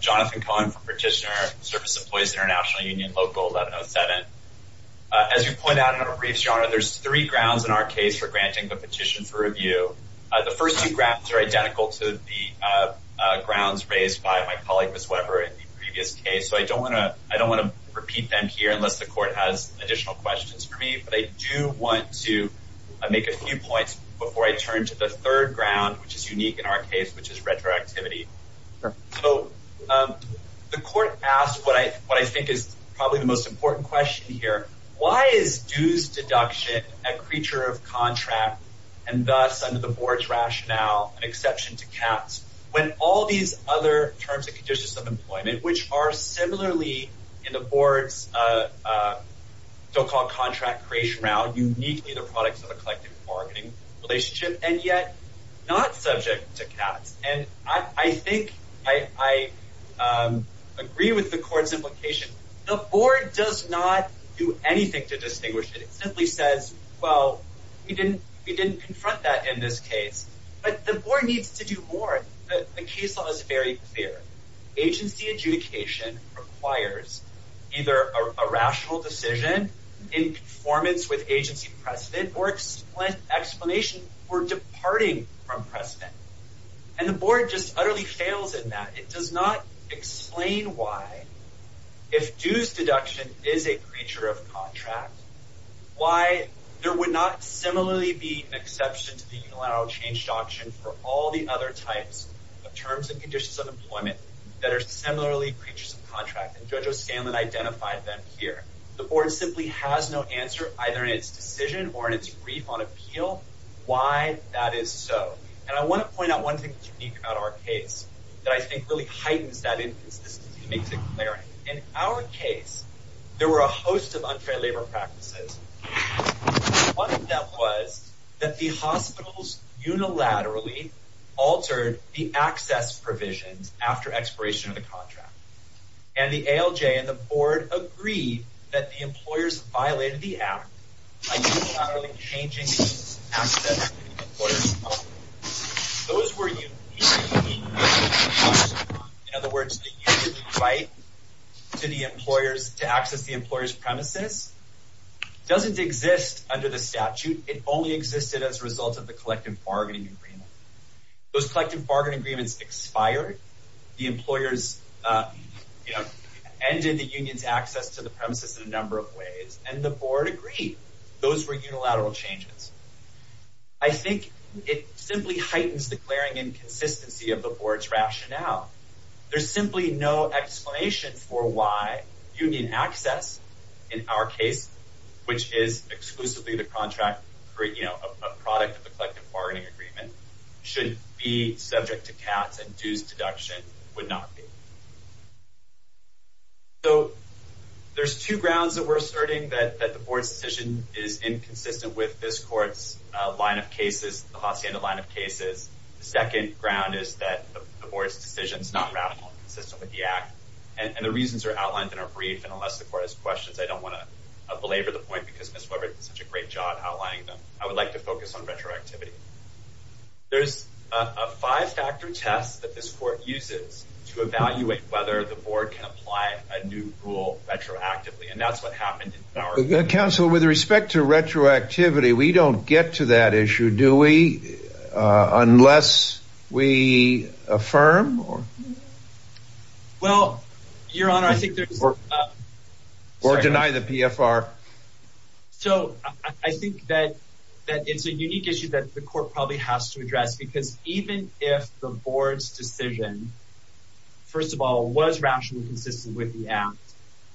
Jonathan Cohen, Petitioner, Service Employees International Union Local 1107 Why is dues deduction a creature of contract and thus, under the Board's rationale, an exception to CATS, when all these other terms and conditions of employment, which are similarly in the Board's so-called contract creation round, uniquely the products of a collective bargaining relationship, and yet not subject to CATS? I agree with the Court's implication. The Board does not do anything to distinguish it. It simply says, well, we didn't confront that in this case. But the Board needs to do more. The case law is very clear. Agency adjudication requires either a rational decision in conformance with agency precedent or explanation for departing from precedent. And the Board just utterly fails in that. It does not explain why, if dues deduction is a creature of contract, why there would not similarly be an exception to the unilateral change doctrine for all the other types of terms and conditions of employment that are similarly creatures of contract. And Judge O'Scanlan identified them here. The Board simply has no answer, either in its decision or in its brief on appeal, why that is so. And I want to point out one thing that's unique about our case that I think really heightens that inconsistency and makes it clearer. In our case, there were a host of unfair labor practices. One of them was that the hospitals unilaterally altered the access provisions after expiration of the contract. And the ALJ and the Board agreed that the employers violated the act by unilaterally changing the access for the employers. Those were unilateral changes. In other words, the union's right to access the employer's premises doesn't exist under the statute. It only existed as a result of the collective bargaining agreement. Those collective bargaining agreements expired. The employers ended the union's access to the premises in a number of ways. And the Board agreed those were unilateral changes. I think it simply heightens the glaring inconsistency of the Board's rationale. There's simply no explanation for why union access in our case, which is exclusively the contract for a product of the collective bargaining agreement, should be subject to cats and dues deduction would not be. So there's two grounds that we're asserting that the Board's decision is inconsistent with this court's line of cases, the Hacienda line of cases. The second ground is that the Board's decision is not rational and consistent with the act. And the reasons are outlined in our brief. And unless the court has questions, I don't want to belabor the point because Ms. Weber did such a great job outlining them. I would like to focus on retroactivity. There's a five-factor test that this court uses to evaluate whether the Board can apply a new rule retroactively. And that's what happened in our case. Counselor, with respect to retroactivity, we don't get to that issue, do we? Unless we affirm? Well, Your Honor, I think there's... Or deny the PFR. So I think that it's a unique issue that the court probably has to address because even if the Board's decision, first of all, was rationally consistent with the act,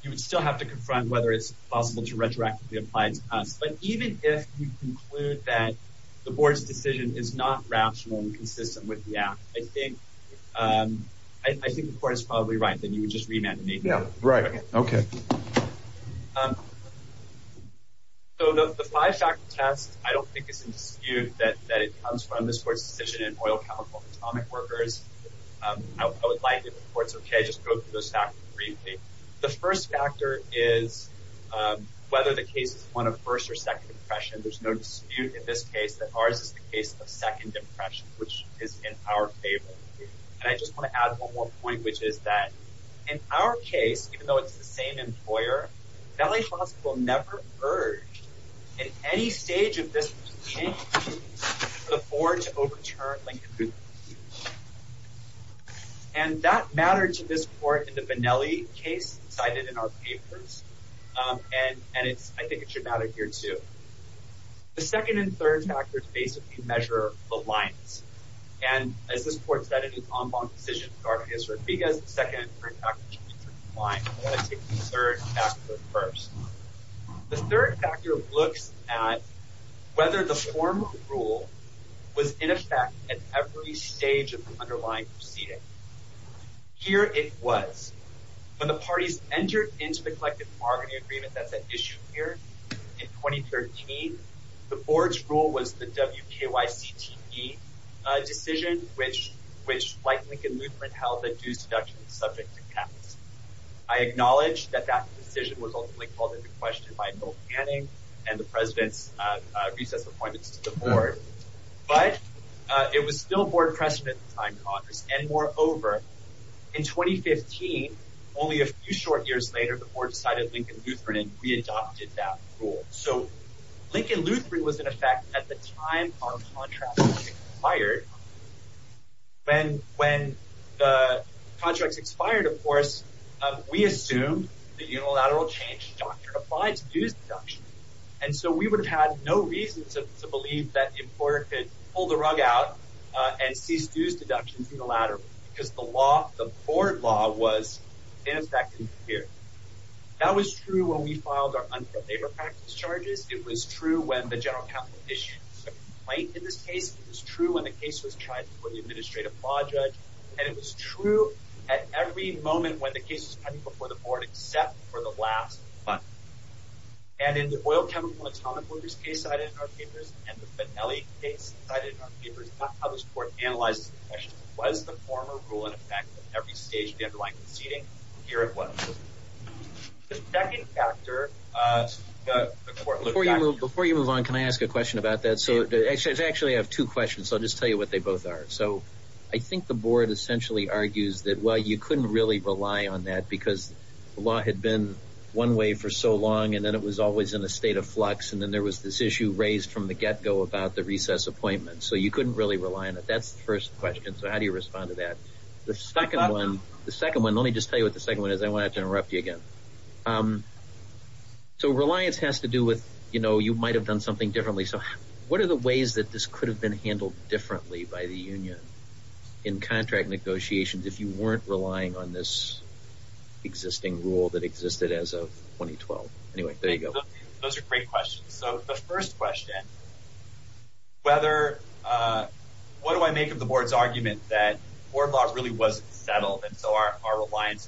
you would still have to confront whether it's possible to retroactively apply it to us. But even if you conclude that the Board's decision is not rational and consistent with the act, I think the court is probably right, then you would just remand me. Yeah, right. Okay. So the five-factor test, I don't think it's indisputable that it comes from this court's decision in Oil, Chemical, and Atomic Workers. I would like, if the court's okay, just go through those factors briefly. The first factor is whether the case is one of first or second impression. There's no dispute in this case that ours is the case of second impression, which is in our favor. And I just want to add one more point, which is that in our case, even though it's the same employer, Vanelli Hospital never urged, in any stage of this proceeding, for the Board to overturn Lincoln. And that mattered to this court in the Vanelli case cited in our papers. And I think it should matter here, too. The second and third factors basically measure the lines. And as this court said, it is en banc decision. Garcia-Rodriguez, the second and third factors measure the lines. I want to take the third factor first. The third factor looks at whether the former rule was in effect at every stage of the underlying proceeding. Here it was. When the parties entered into the collective bargaining agreement that's at issue here in 2013, the Board's rule was the WKYCTE decision, which, like Lincoln Lutheran, held that due seduction is subject to cap. I acknowledge that that decision was ultimately called into question by Bill Canning and the President's recess appointments to the Board. But it was still Board precedent at the time, Congress. And moreover, in 2015, only a few short years later, the Board decided Lincoln Lutheran and readopted that rule. So Lincoln Lutheran was in effect at the time our contract expired. When the contract expired, of course, we assumed the unilateral change doctrine applied to due seduction. And so we would have had no reason to believe that the employer could pull the rug out and cease due seduction unilaterally because the law, the Board law, was in effect in the period. That was true when we filed our unfair labor practice charges. It was true when the general counsel issued a complaint in this case. It was true when the case was tried before the administrative law judge. And it was true at every moment when the case was coming before the Board except for the last month. And in the oil chemical and atomic workers case cited in our papers and the Benelli case cited in our papers, not how this Court analyzed the question, was the former rule in effect at every stage of the underlying proceeding? Here it was. The second factor. Before you move on, can I ask a question about that? I actually have two questions, so I'll just tell you what they both are. So I think the Board essentially argues that, well, you couldn't really rely on that because the law had been one way for so long, and then it was always in a state of flux, and then there was this issue raised from the get-go about the recess appointment. So you couldn't really rely on it. That's the first question. So how do you respond to that? The second one, let me just tell you what the second one is. I don't want to interrupt you again. So reliance has to do with, you know, you might have done something differently. So what are the ways that this could have been handled differently by the union in contract negotiations if you weren't relying on this existing rule that existed as of 2012? Anyway, there you go. Those are great questions. So the first question, what do I make of the Board's argument that board law really wasn't settled and so our reliance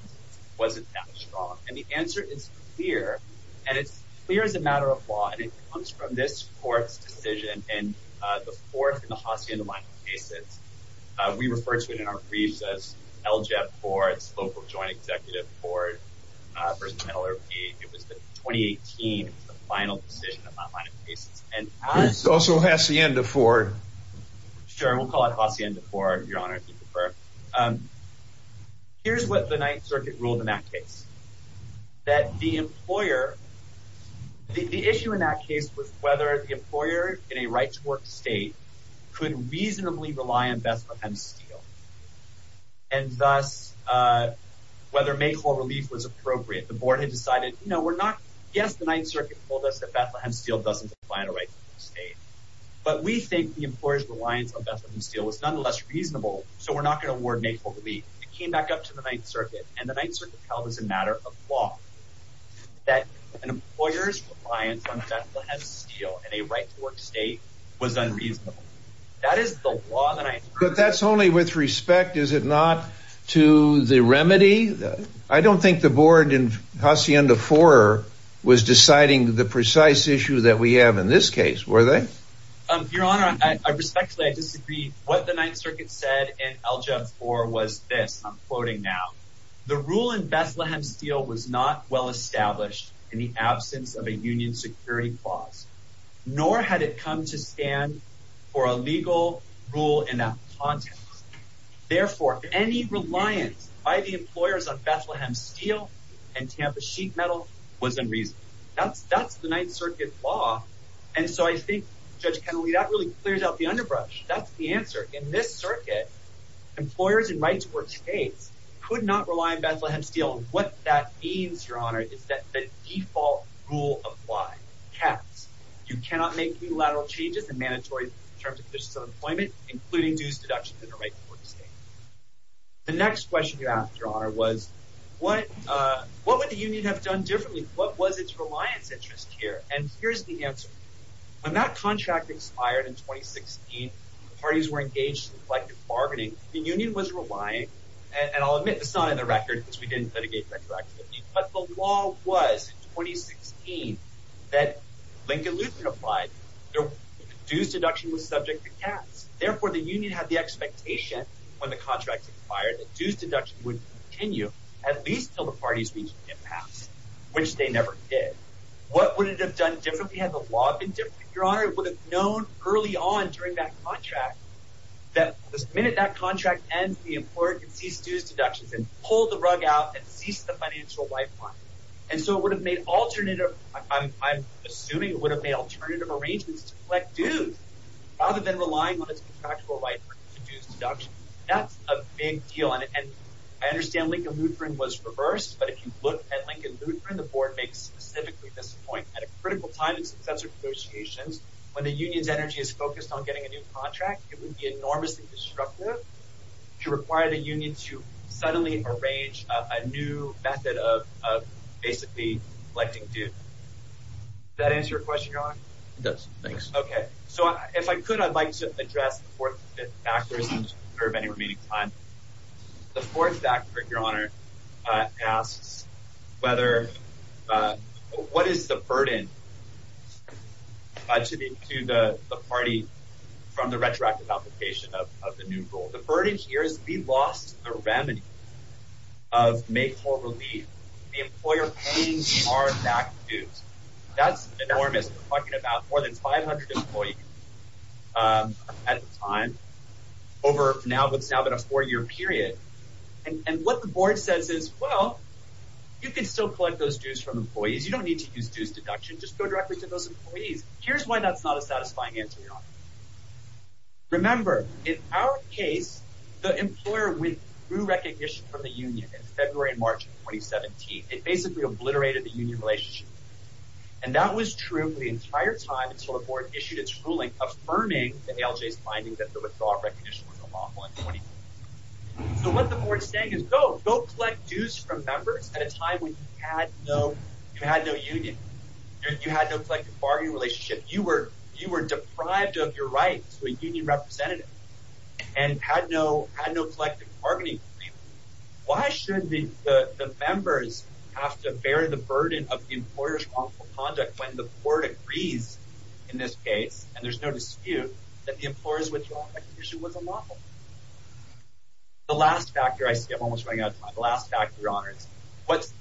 wasn't that strong? And the answer is clear, and it's clear as a matter of law, and it comes from this Court's decision in the Fourth and the Hacienda-Linus cases. We refer to it in our briefs as LJEP courts, local joint executive court versus NLRP. It was the 2018, it was the final decision of that line of cases. Also Hacienda-Ford. Sure, we'll call it Hacienda-Ford, Your Honor, if you prefer. Here's what the Ninth Circuit ruled in that case. That the employer, the issue in that case was whether the employer in a right-to-work state could reasonably rely on Bethlehem Steel. And thus, whether make-all relief was appropriate, the Board had decided, you know, we're not, yes, the Ninth Circuit told us that Bethlehem Steel doesn't define a right-to-work state, but we think the employer's reliance on Bethlehem Steel was nonetheless reasonable, so we're not going to award make-all relief. It came back up to the Ninth Circuit, and the Ninth Circuit held as a matter of law that an employer's reliance on Bethlehem Steel in a right-to-work state was unreasonable. But that's only with respect, is it not, to the remedy? I don't think the Board in Hacienda-Ford was deciding the precise issue that we have in this case, were they? Your Honor, respectfully, I disagree. What the Ninth Circuit said in LJUV 4 was this, and I'm quoting now. The rule in Bethlehem Steel was not well established in the absence of a union security clause, nor had it come to stand for a legal rule in that context. Therefore, any reliance by the employers on Bethlehem Steel and Tampa Sheet Metal was unreasonable. That's the Ninth Circuit law, and so I think, Judge Kennelly, that really clears out the underbrush. That's the answer. In this circuit, employers in right-to-work states could not rely on Bethlehem Steel. What that means, Your Honor, is that the default rule applies. Caps. You cannot make unilateral changes in mandatory terms of conditions of employment, including dues deductions in a right-to-work state. The next question you asked, Your Honor, was what would the union have done differently? What was its reliance interest here? And here's the answer. When that contract expired in 2016, parties were engaged in collective bargaining. The union was relying, and I'll admit this is not in the record because we didn't litigate retroactively, but the law was in 2016 that Lincoln Lutheran applied. Dues deduction was subject to caps. Therefore, the union had the expectation when the contract expired that dues deduction would continue at least until the parties reached an impasse, which they never did. What would it have done differently? Had the law been different, Your Honor, it would have known early on during that contract that the minute that contract ends, the employer can cease dues deductions and pull the rug out and cease the financial lifeline. And so it would have made alternative, I'm assuming it would have made alternative arrangements to collect dues rather than relying on its contractual lifeline for dues deduction. That's a big deal, and I understand Lincoln Lutheran was reversed, but if you look at Lincoln Lutheran, the board makes specifically this point. At a critical time in successor negotiations, when the union's energy is focused on getting a new contract, it would be enormously disruptive to require the union to suddenly arrange a new method of basically collecting dues. Does that answer your question, Your Honor? It does, thanks. Okay. So if I could, I'd like to address the fourth and fifth factors in order to preserve any remaining time. The fourth factor, Your Honor, asks whether, what is the burden to the party from the retroactive application of the new rule? The burden here is we lost the remedy of make whole relief. The employer paying our back dues. That's enormous. We're talking about more than 500 employees at a time. Over what's now been a four-year period. And what the board says is, well, you can still collect those dues from employees. You don't need to use dues deduction. Just go directly to those employees. Here's why that's not a satisfying answer, Your Honor. Remember, in our case, the employer withdrew recognition from the union in February and March of 2017. It basically obliterated the union relationship. And that was true for the entire time until the board issued its ruling affirming the ALJ's finding that the withdrawal of recognition was unlawful in 2020. So what the board is saying is go, go collect dues from members at a time when you had no union. You had no collective bargaining relationship. You were deprived of your rights to a union representative and had no collective bargaining agreement. Why should the members have to bear the burden of the employer's wrongful conduct when the board agrees in this case, and there's no dispute, that the employer's withdrawal recognition was unlawful? The last factor, I see I'm almost running out of time, the last factor, Your Honors, what's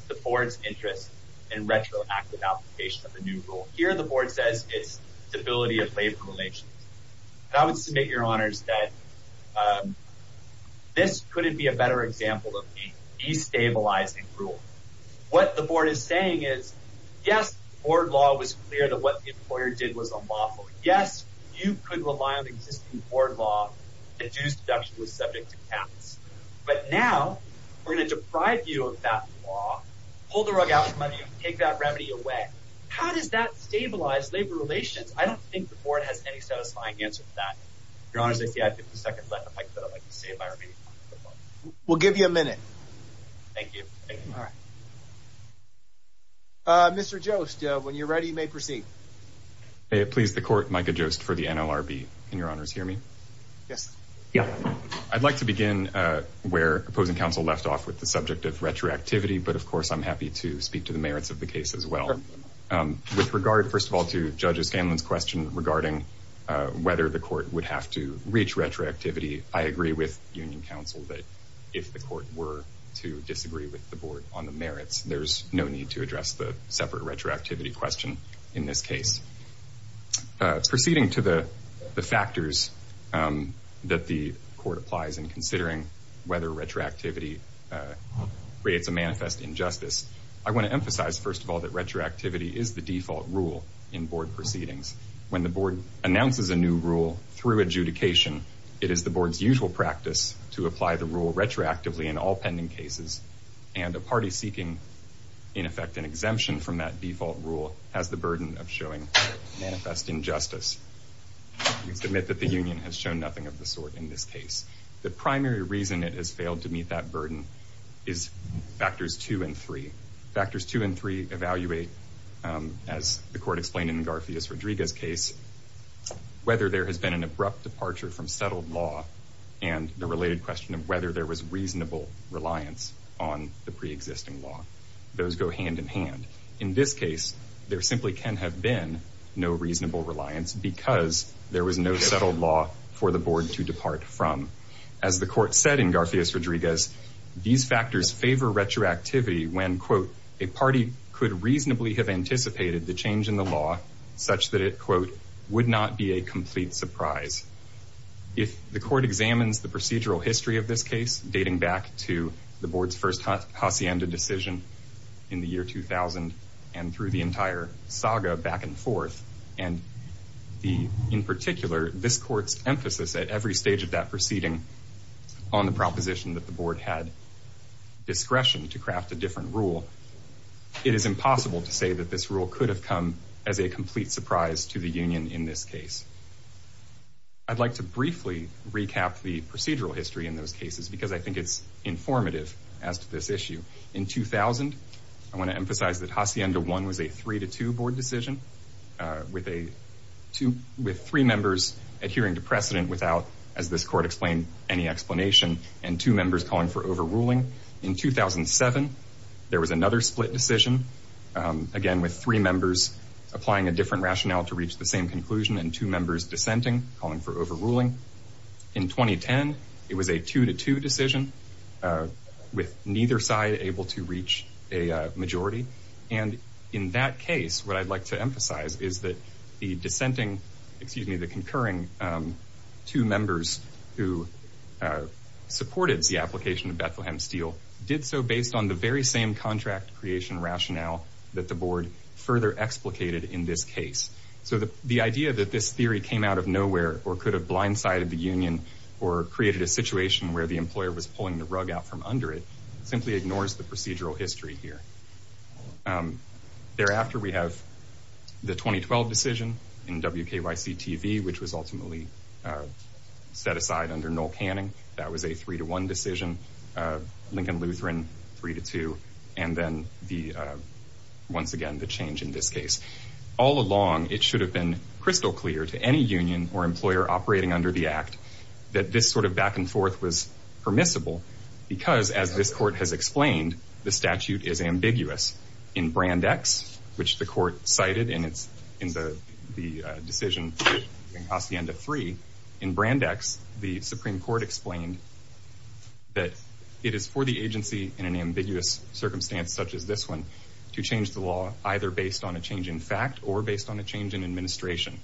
the board's interest in retroactive application of the new rule? Here the board says it's stability of labor relations. And I would submit, Your Honors, that this couldn't be a better example of destabilizing rule. What the board is saying is, yes, board law was clear that what the employer did was unlawful. Yes, you could rely on existing board law to do something that was subject to tax. But now we're going to deprive you of that law, pull the rug out from under you, take that remedy away. How does that stabilize labor relations? I don't think the board has any satisfying answer to that. Your Honors, I see I have 50 seconds left. I'd like to save my remaining time. We'll give you a minute. Thank you. Mr. Jost, when you're ready, you may proceed. Please, the court, Micah Jost for the NLRB. Can Your Honors hear me? Yes. I'd like to begin where opposing counsel left off with the subject of retroactivity, but, of course, I'm happy to speak to the merits of the case as well. With regard, first of all, to Judge Scanlon's question regarding whether the court would have to reach retroactivity, I agree with union counsel that if the court were to disagree with the board on the merits, there's no need to address the separate retroactivity question in this case. Proceeding to the factors that the court applies in considering whether retroactivity creates a manifest injustice, I want to emphasize, first of all, that retroactivity is the default rule in board proceedings. When the board announces a new rule through adjudication, it is the board's usual practice to apply the rule retroactively in all pending cases, and a party seeking, in effect, an exemption from that default rule has the burden of showing manifest injustice. We submit that the union has shown nothing of the sort in this case. The primary reason it has failed to meet that burden is factors two and three. Factors two and three evaluate, as the court explained in Garfias-Rodriguez's case, whether there has been an abrupt departure from settled law and the related question of whether there was reasonable reliance on the preexisting law. Those go hand in hand. In this case, there simply can have been no reasonable reliance because there was no settled law for the board to depart from. As the court said in Garfias-Rodriguez, these factors favor retroactivity when, quote, a party could reasonably have anticipated the change in the law such that it, quote, would not be a complete surprise. If the court examines the procedural history of this case, dating back to the board's first hacienda decision in the year 2000 and through the entire saga back and forth, and in particular, this court's emphasis at every stage of that proceeding on the proposition that the board had discretion to craft a different rule, it is impossible to say that this rule could have come as a complete surprise to the union in this case. I'd like to briefly recap the procedural history in those cases because I think it's informative as to this issue. In 2000, I want to emphasize that Hacienda 1 was a 3-2 board decision with three members adhering to precedent without, as this court explained, any explanation, and two members calling for overruling. In 2007, there was another split decision, again, with three members applying a different rationale to reach the same conclusion and two members dissenting, calling for overruling. In 2010, it was a 2-2 decision with neither side able to reach a majority, and in that case, what I'd like to emphasize is that the dissenting, excuse me, the concurring two members who supported the application of Bethlehem Steel did so based on the very same contract creation rationale that the board further explicated in this case. So the idea that this theory came out of nowhere or could have blindsided the union or created a situation where the employer was pulling the rug out from under it simply ignores the procedural history here. Thereafter, we have the 2012 decision in WKYC-TV, which was ultimately set aside under Noel Canning. That was a 3-1 decision, Lincoln-Lutheran 3-2, and then, once again, the change in this case. All along, it should have been crystal clear to any union or employer operating under the Act that this sort of back-and-forth was permissible because, as this court has explained, the statute is ambiguous. In Brand X, which the court cited in the decision in Hacienda 3, in Brand X, the Supreme Court explained that it is for the agency in an ambiguous circumstance such as this one to change the law either based on a change in fact or based on a change in administration.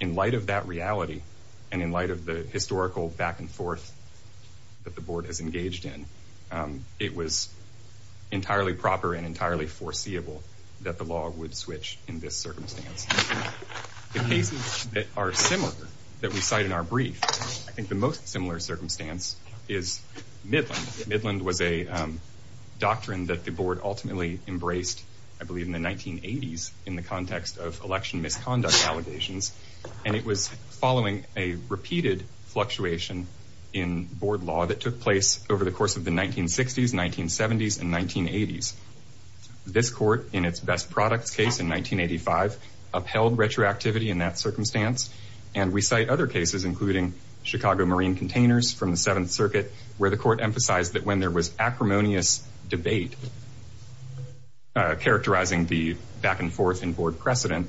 In light of that reality and in light of the historical back-and-forth that the board has engaged in, it was entirely proper and entirely foreseeable that the law would switch in this circumstance. The cases that are similar that we cite in our brief, I think the most similar circumstance is Midland. Midland was a doctrine that the board ultimately embraced, I believe, in the 1980s in the context of election misconduct allegations, and it was following a repeated fluctuation in board law that took place over the course of the 1960s, 1970s, and 1980s. This court, in its best products case in 1985, upheld retroactivity in that circumstance, and we cite other cases, including Chicago Marine Containers from the Seventh Circuit, where the court emphasized that when there was acrimonious debate characterizing the back-and-forth in board precedent,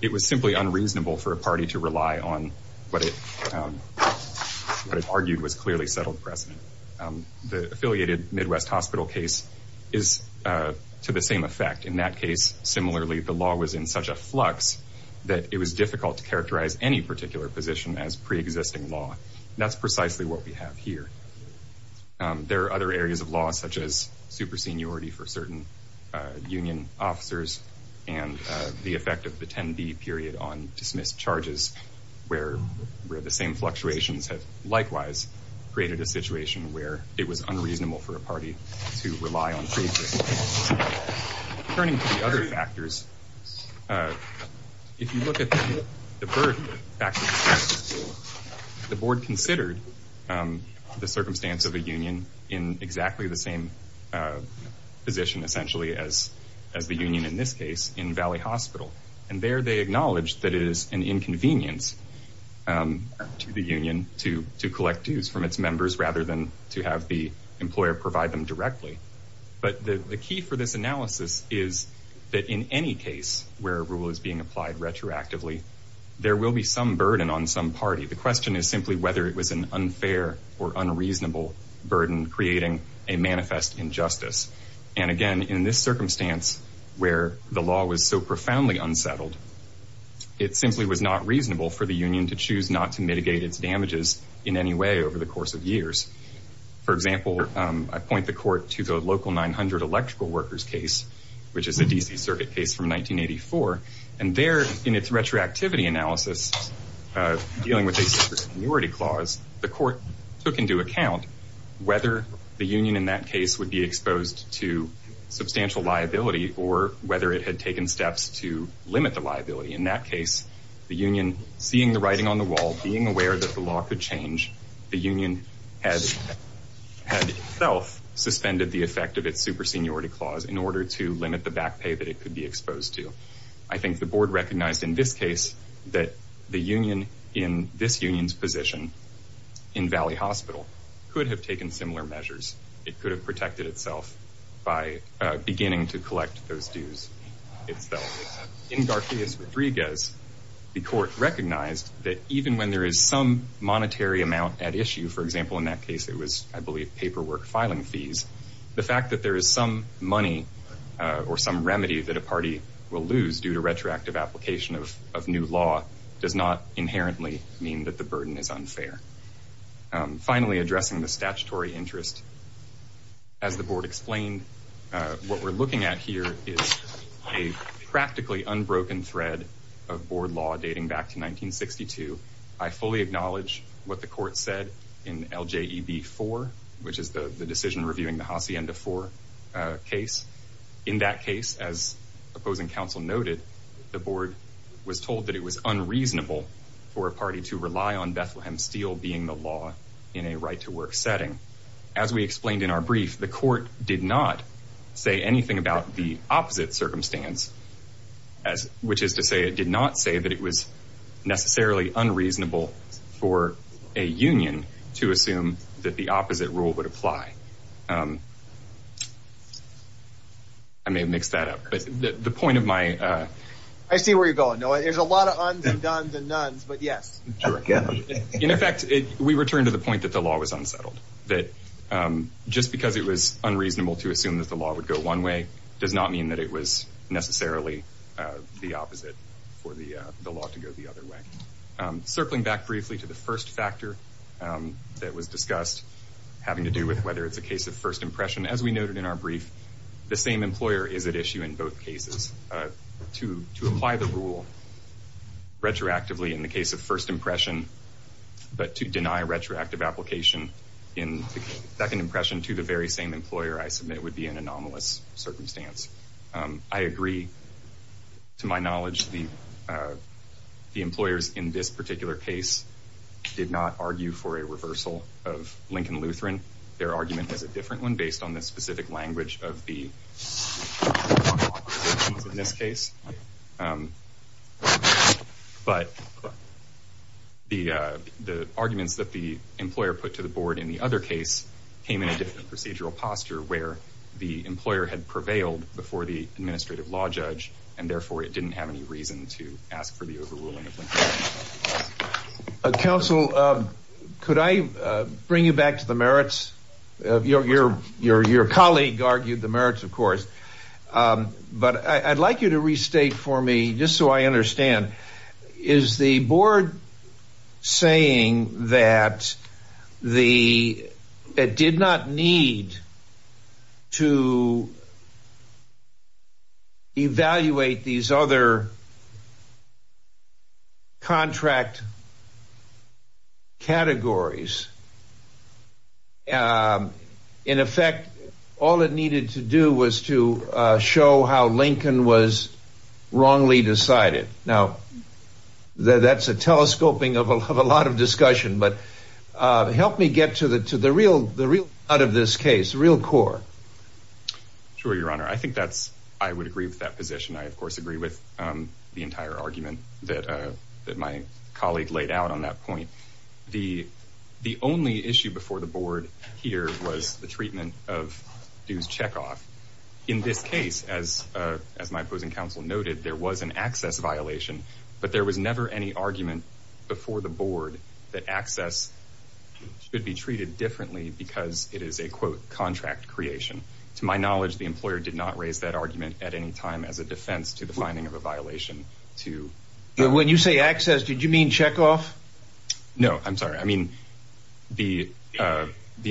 it was simply unreasonable for a party to rely on what it argued was clearly settled precedent. The affiliated Midwest Hospital case is to the same effect. In that case, similarly, the law was in such a flux that it was difficult to characterize any particular position as preexisting law. That's precisely what we have here. There are other areas of law, such as super seniority for certain union officers and the effect of the 10-B period on dismissed charges where the same fluctuations have likewise created a situation where it was unreasonable for a party to rely on preexisting law. Turning to the other factors, if you look at the birth factors, the board considered the circumstance of a union in exactly the same position, essentially, as the union in this case in Valley Hospital, and there they acknowledged that it is an inconvenience to the union to collect dues from its members rather than to have the employer provide them directly. But the key for this analysis is that in any case where a rule is being applied retroactively, there will be some burden on some party. The question is simply whether it was an unfair or unreasonable burden creating a manifest injustice. And again, in this circumstance where the law was so profoundly unsettled, it simply was not reasonable for the union to choose not to mitigate its damages in any way over the course of years. For example, I point the court to the local 900 electrical workers case, which is a D.C. circuit case from 1984, and there in its retroactivity analysis dealing with a super seniority clause, the court took into account whether the union in that case would be exposed to substantial liability or whether it had taken steps to limit the liability. In that case, the union, seeing the writing on the wall, being aware that the law could change, the union had itself suspended the effect of its super seniority clause in order to limit the back pay that it could be exposed to. I think the board recognized in this case that the union in this union's position in Valley Hospital could have taken similar measures. It could have protected itself by beginning to collect those dues itself. In Garcias Rodriguez, the court recognized that even when there is some monetary amount at issue, for example, in that case it was, I believe, paperwork filing fees, the fact that there is some money or some remedy that a party will lose due to retroactive application of new law does not inherently mean that the burden is unfair. Finally, addressing the statutory interest, as the board explained, what we're looking at here is a practically unbroken thread of board law dating back to 1962. I fully acknowledge what the court said in LJEB 4, which is the decision reviewing the Hacienda 4 case. In that case, as opposing counsel noted, the board was told that it was unreasonable for a party to rely on Bethlehem Steel being the law in a right-to-work setting. As we explained in our brief, the court did not say anything about the opposite circumstance, which is to say it did not say that it was necessarily unreasonable for a union to assume that the opposite rule would apply. I may have mixed that up, but the point of my... I see where you're going, Noah. There's a lot of uns and dones and nones, but yes. In effect, we return to the point that the law was unsettled, that just because it was unreasonable to assume that the law would go one way does not mean that it was necessarily the opposite for the law to go the other way. Circling back briefly to the first factor that was discussed, having to do with whether it's a case of first impression, as we noted in our brief, the same employer is at issue in both cases. To apply the rule retroactively in the case of first impression, but to deny retroactive application in the second impression to the very same employer I submit would be an anomalous circumstance. I agree. To my knowledge, the employers in this particular case did not argue for a reversal of Lincoln-Lutheran. Their argument was a different one based on the specific language of the law provisions in this case. But the arguments that the employer put to the board in the other case came in a different procedural posture where the employer had prevailed before the administrative law judge, and therefore it didn't have any reason to ask for the overruling of Lincoln-Lutheran. Counsel, could I bring you back to the merits? Your colleague argued the merits, of course, but I'd like you to restate for me, just so I understand, is the board saying that it did not need to evaluate these other contract categories? In effect, all it needed to do was to show how Lincoln was wrongly decided. Now, that's a telescoping of a lot of discussion, but help me get to the real heart of this case, the real core. Sure, Your Honor. I think I would agree with that position. I, of course, agree with the entire argument that my colleague laid out on that point. The only issue before the board here was the treatment of dues checkoff. In this case, as my opposing counsel noted, there was an access violation, but there was never any argument before the board that access should be treated differently because it is a, quote, contract creation. To my knowledge, the employer did not raise that argument at any time as a defense to the finding of a violation. When you say access, did you mean checkoff? No, I'm sorry. I mean the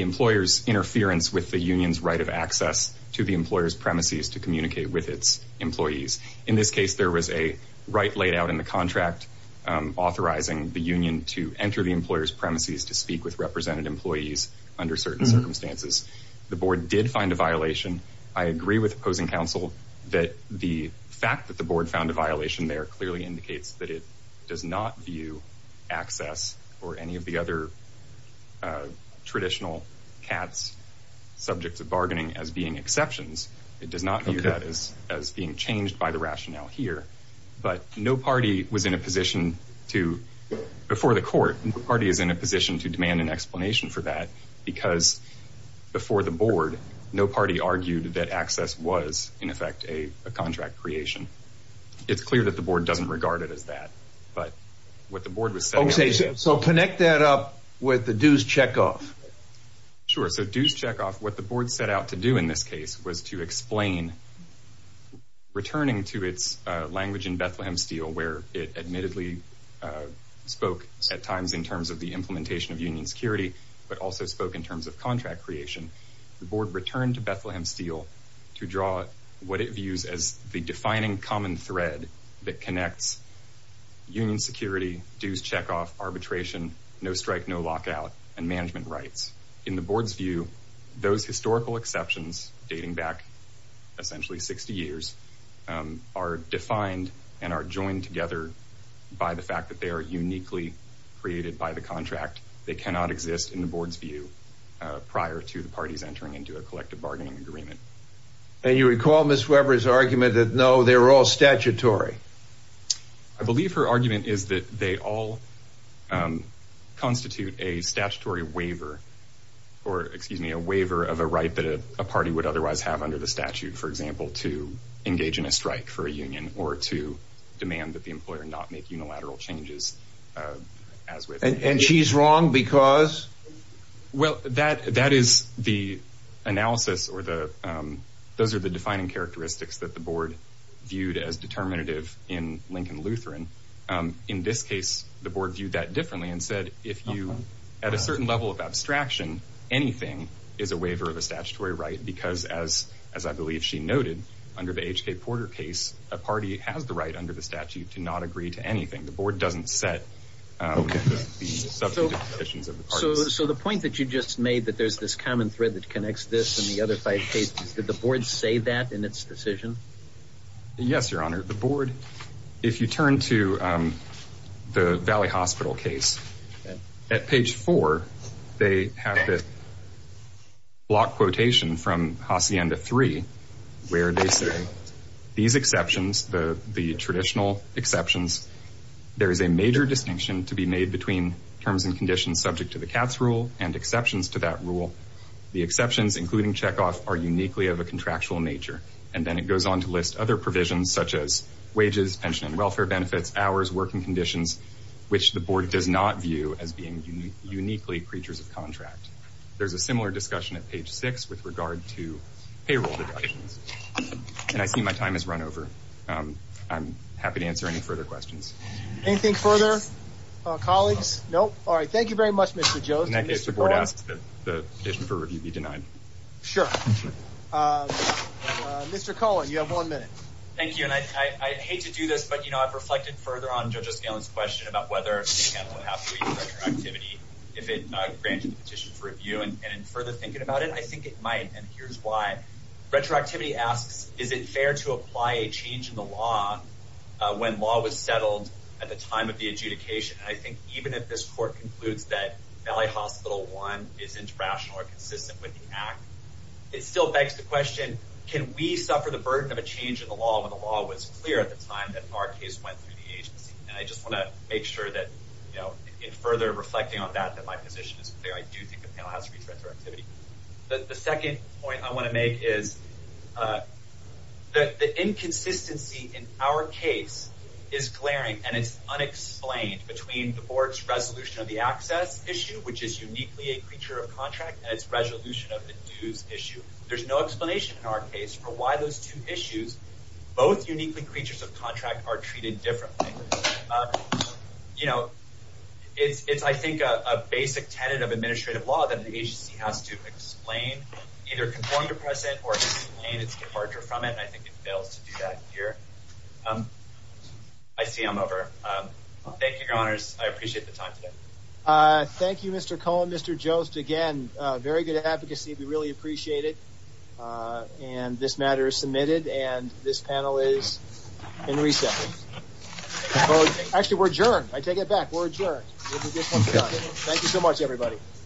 employer's interference with the union's right of access to the employer's premises to communicate with its employees. In this case, there was a right laid out in the contract authorizing the union to enter the employer's premises to speak with represented employees under certain circumstances. The board did find a violation. I agree with opposing counsel that the fact that the board found a violation there clearly indicates that it does not view access or any of the other traditional CATS subjects of bargaining as being exceptions. It does not view that as being changed by the rationale here. But no party was in a position to, before the court, no party is in a position to demand an explanation for that because before the board, no party argued that access was, in effect, a contract creation. It's clear that the board doesn't regard it as that, but what the board was saying. Okay, so connect that up with the dues checkoff. Sure, so dues checkoff, what the board set out to do in this case was to explain, returning to its language in Bethlehem Steel, where it admittedly spoke at times in terms of the implementation of union security, but also spoke in terms of contract creation. The board returned to Bethlehem Steel to draw what it views as the defining common thread that connects union security, dues checkoff, arbitration, no strike, no lockout, and management rights. In the board's view, those historical exceptions dating back essentially 60 years are defined and are joined together by the fact that they are uniquely created by the contract. They cannot exist in the board's view prior to the parties entering into a collective bargaining agreement. And you recall Ms. Weber's argument that, no, they were all statutory. I believe her argument is that they all constitute a statutory waiver, or excuse me, a waiver of a right that a party would otherwise have under the statute, for example, to engage in a strike for a union or to demand that the employer not make unilateral changes as with. And she's wrong because. Well, that that is the analysis or the those are the defining characteristics that the board viewed as determinative in Lincoln Lutheran. In this case, the board viewed that differently and said, if you at a certain level of abstraction, anything is a waiver of a statutory right. Because as as I believe she noted, under the H.K. Porter case, a party has the right under the statute to not agree to anything. The board doesn't set the subject of the decisions of the parties. So the point that you just made that there's this common thread that connects this and the other five cases, did the board say that in its decision? Yes, Your Honor. The board, if you turn to the Valley Hospital case at page four, they have this block quotation from Hacienda three, where they say these exceptions, the the traditional exceptions. There is a major distinction to be made between terms and conditions subject to the Cats rule and exceptions to that rule. The exceptions, including checkoff, are uniquely of a contractual nature. And then it goes on to list other provisions such as wages, pension and welfare benefits, hours, working conditions, which the board does not view as being uniquely creatures of contract. There's a similar discussion at page six with regard to payroll deductions. And I see my time has run over. I'm happy to answer any further questions. Anything further? Colleagues? Nope. All right. Thank you very much, Mr. Joe. In that case, the board asked that the petition for review be denied. Sure. Mr. Cohen, you have one minute. Thank you. And I hate to do this, but, you know, I've reflected further on just this question about whether it's going to happen. Activity, if it granted the petition for review and further thinking about it, I think it might. And here's why. Retroactivity asks, is it fair to apply a change in the law when law was settled at the time of the adjudication? And I think even if this court concludes that Valley Hospital one is interrational or consistent with the act, it still begs the question. Can we suffer the burden of a change in the law when the law was clear at the time that our case went through the agency? And I just want to make sure that, you know, in further reflecting on that, that my position is clear. I do think the panel has retroactivity. The second point I want to make is that the inconsistency in our case is glaring and it's unexplained between the board's resolution of the access issue, which is uniquely a creature of contract and its resolution of the dues issue. There's no explanation in our case for why those two issues, both uniquely creatures of contract, are treated differently. You know, it's I think a basic tenet of administrative law that the agency has to explain, either conform to present or explain its departure from it. And I think it fails to do that here. I see I'm over. Thank you, Your Honors. I appreciate the time today. Thank you, Mr. Cohen. Mr. Jost, again, very good advocacy. We really appreciate it. And this matter is submitted and this panel is in recess. Actually, we're adjourned. I take it back. We're adjourned. Thank you so much, everybody.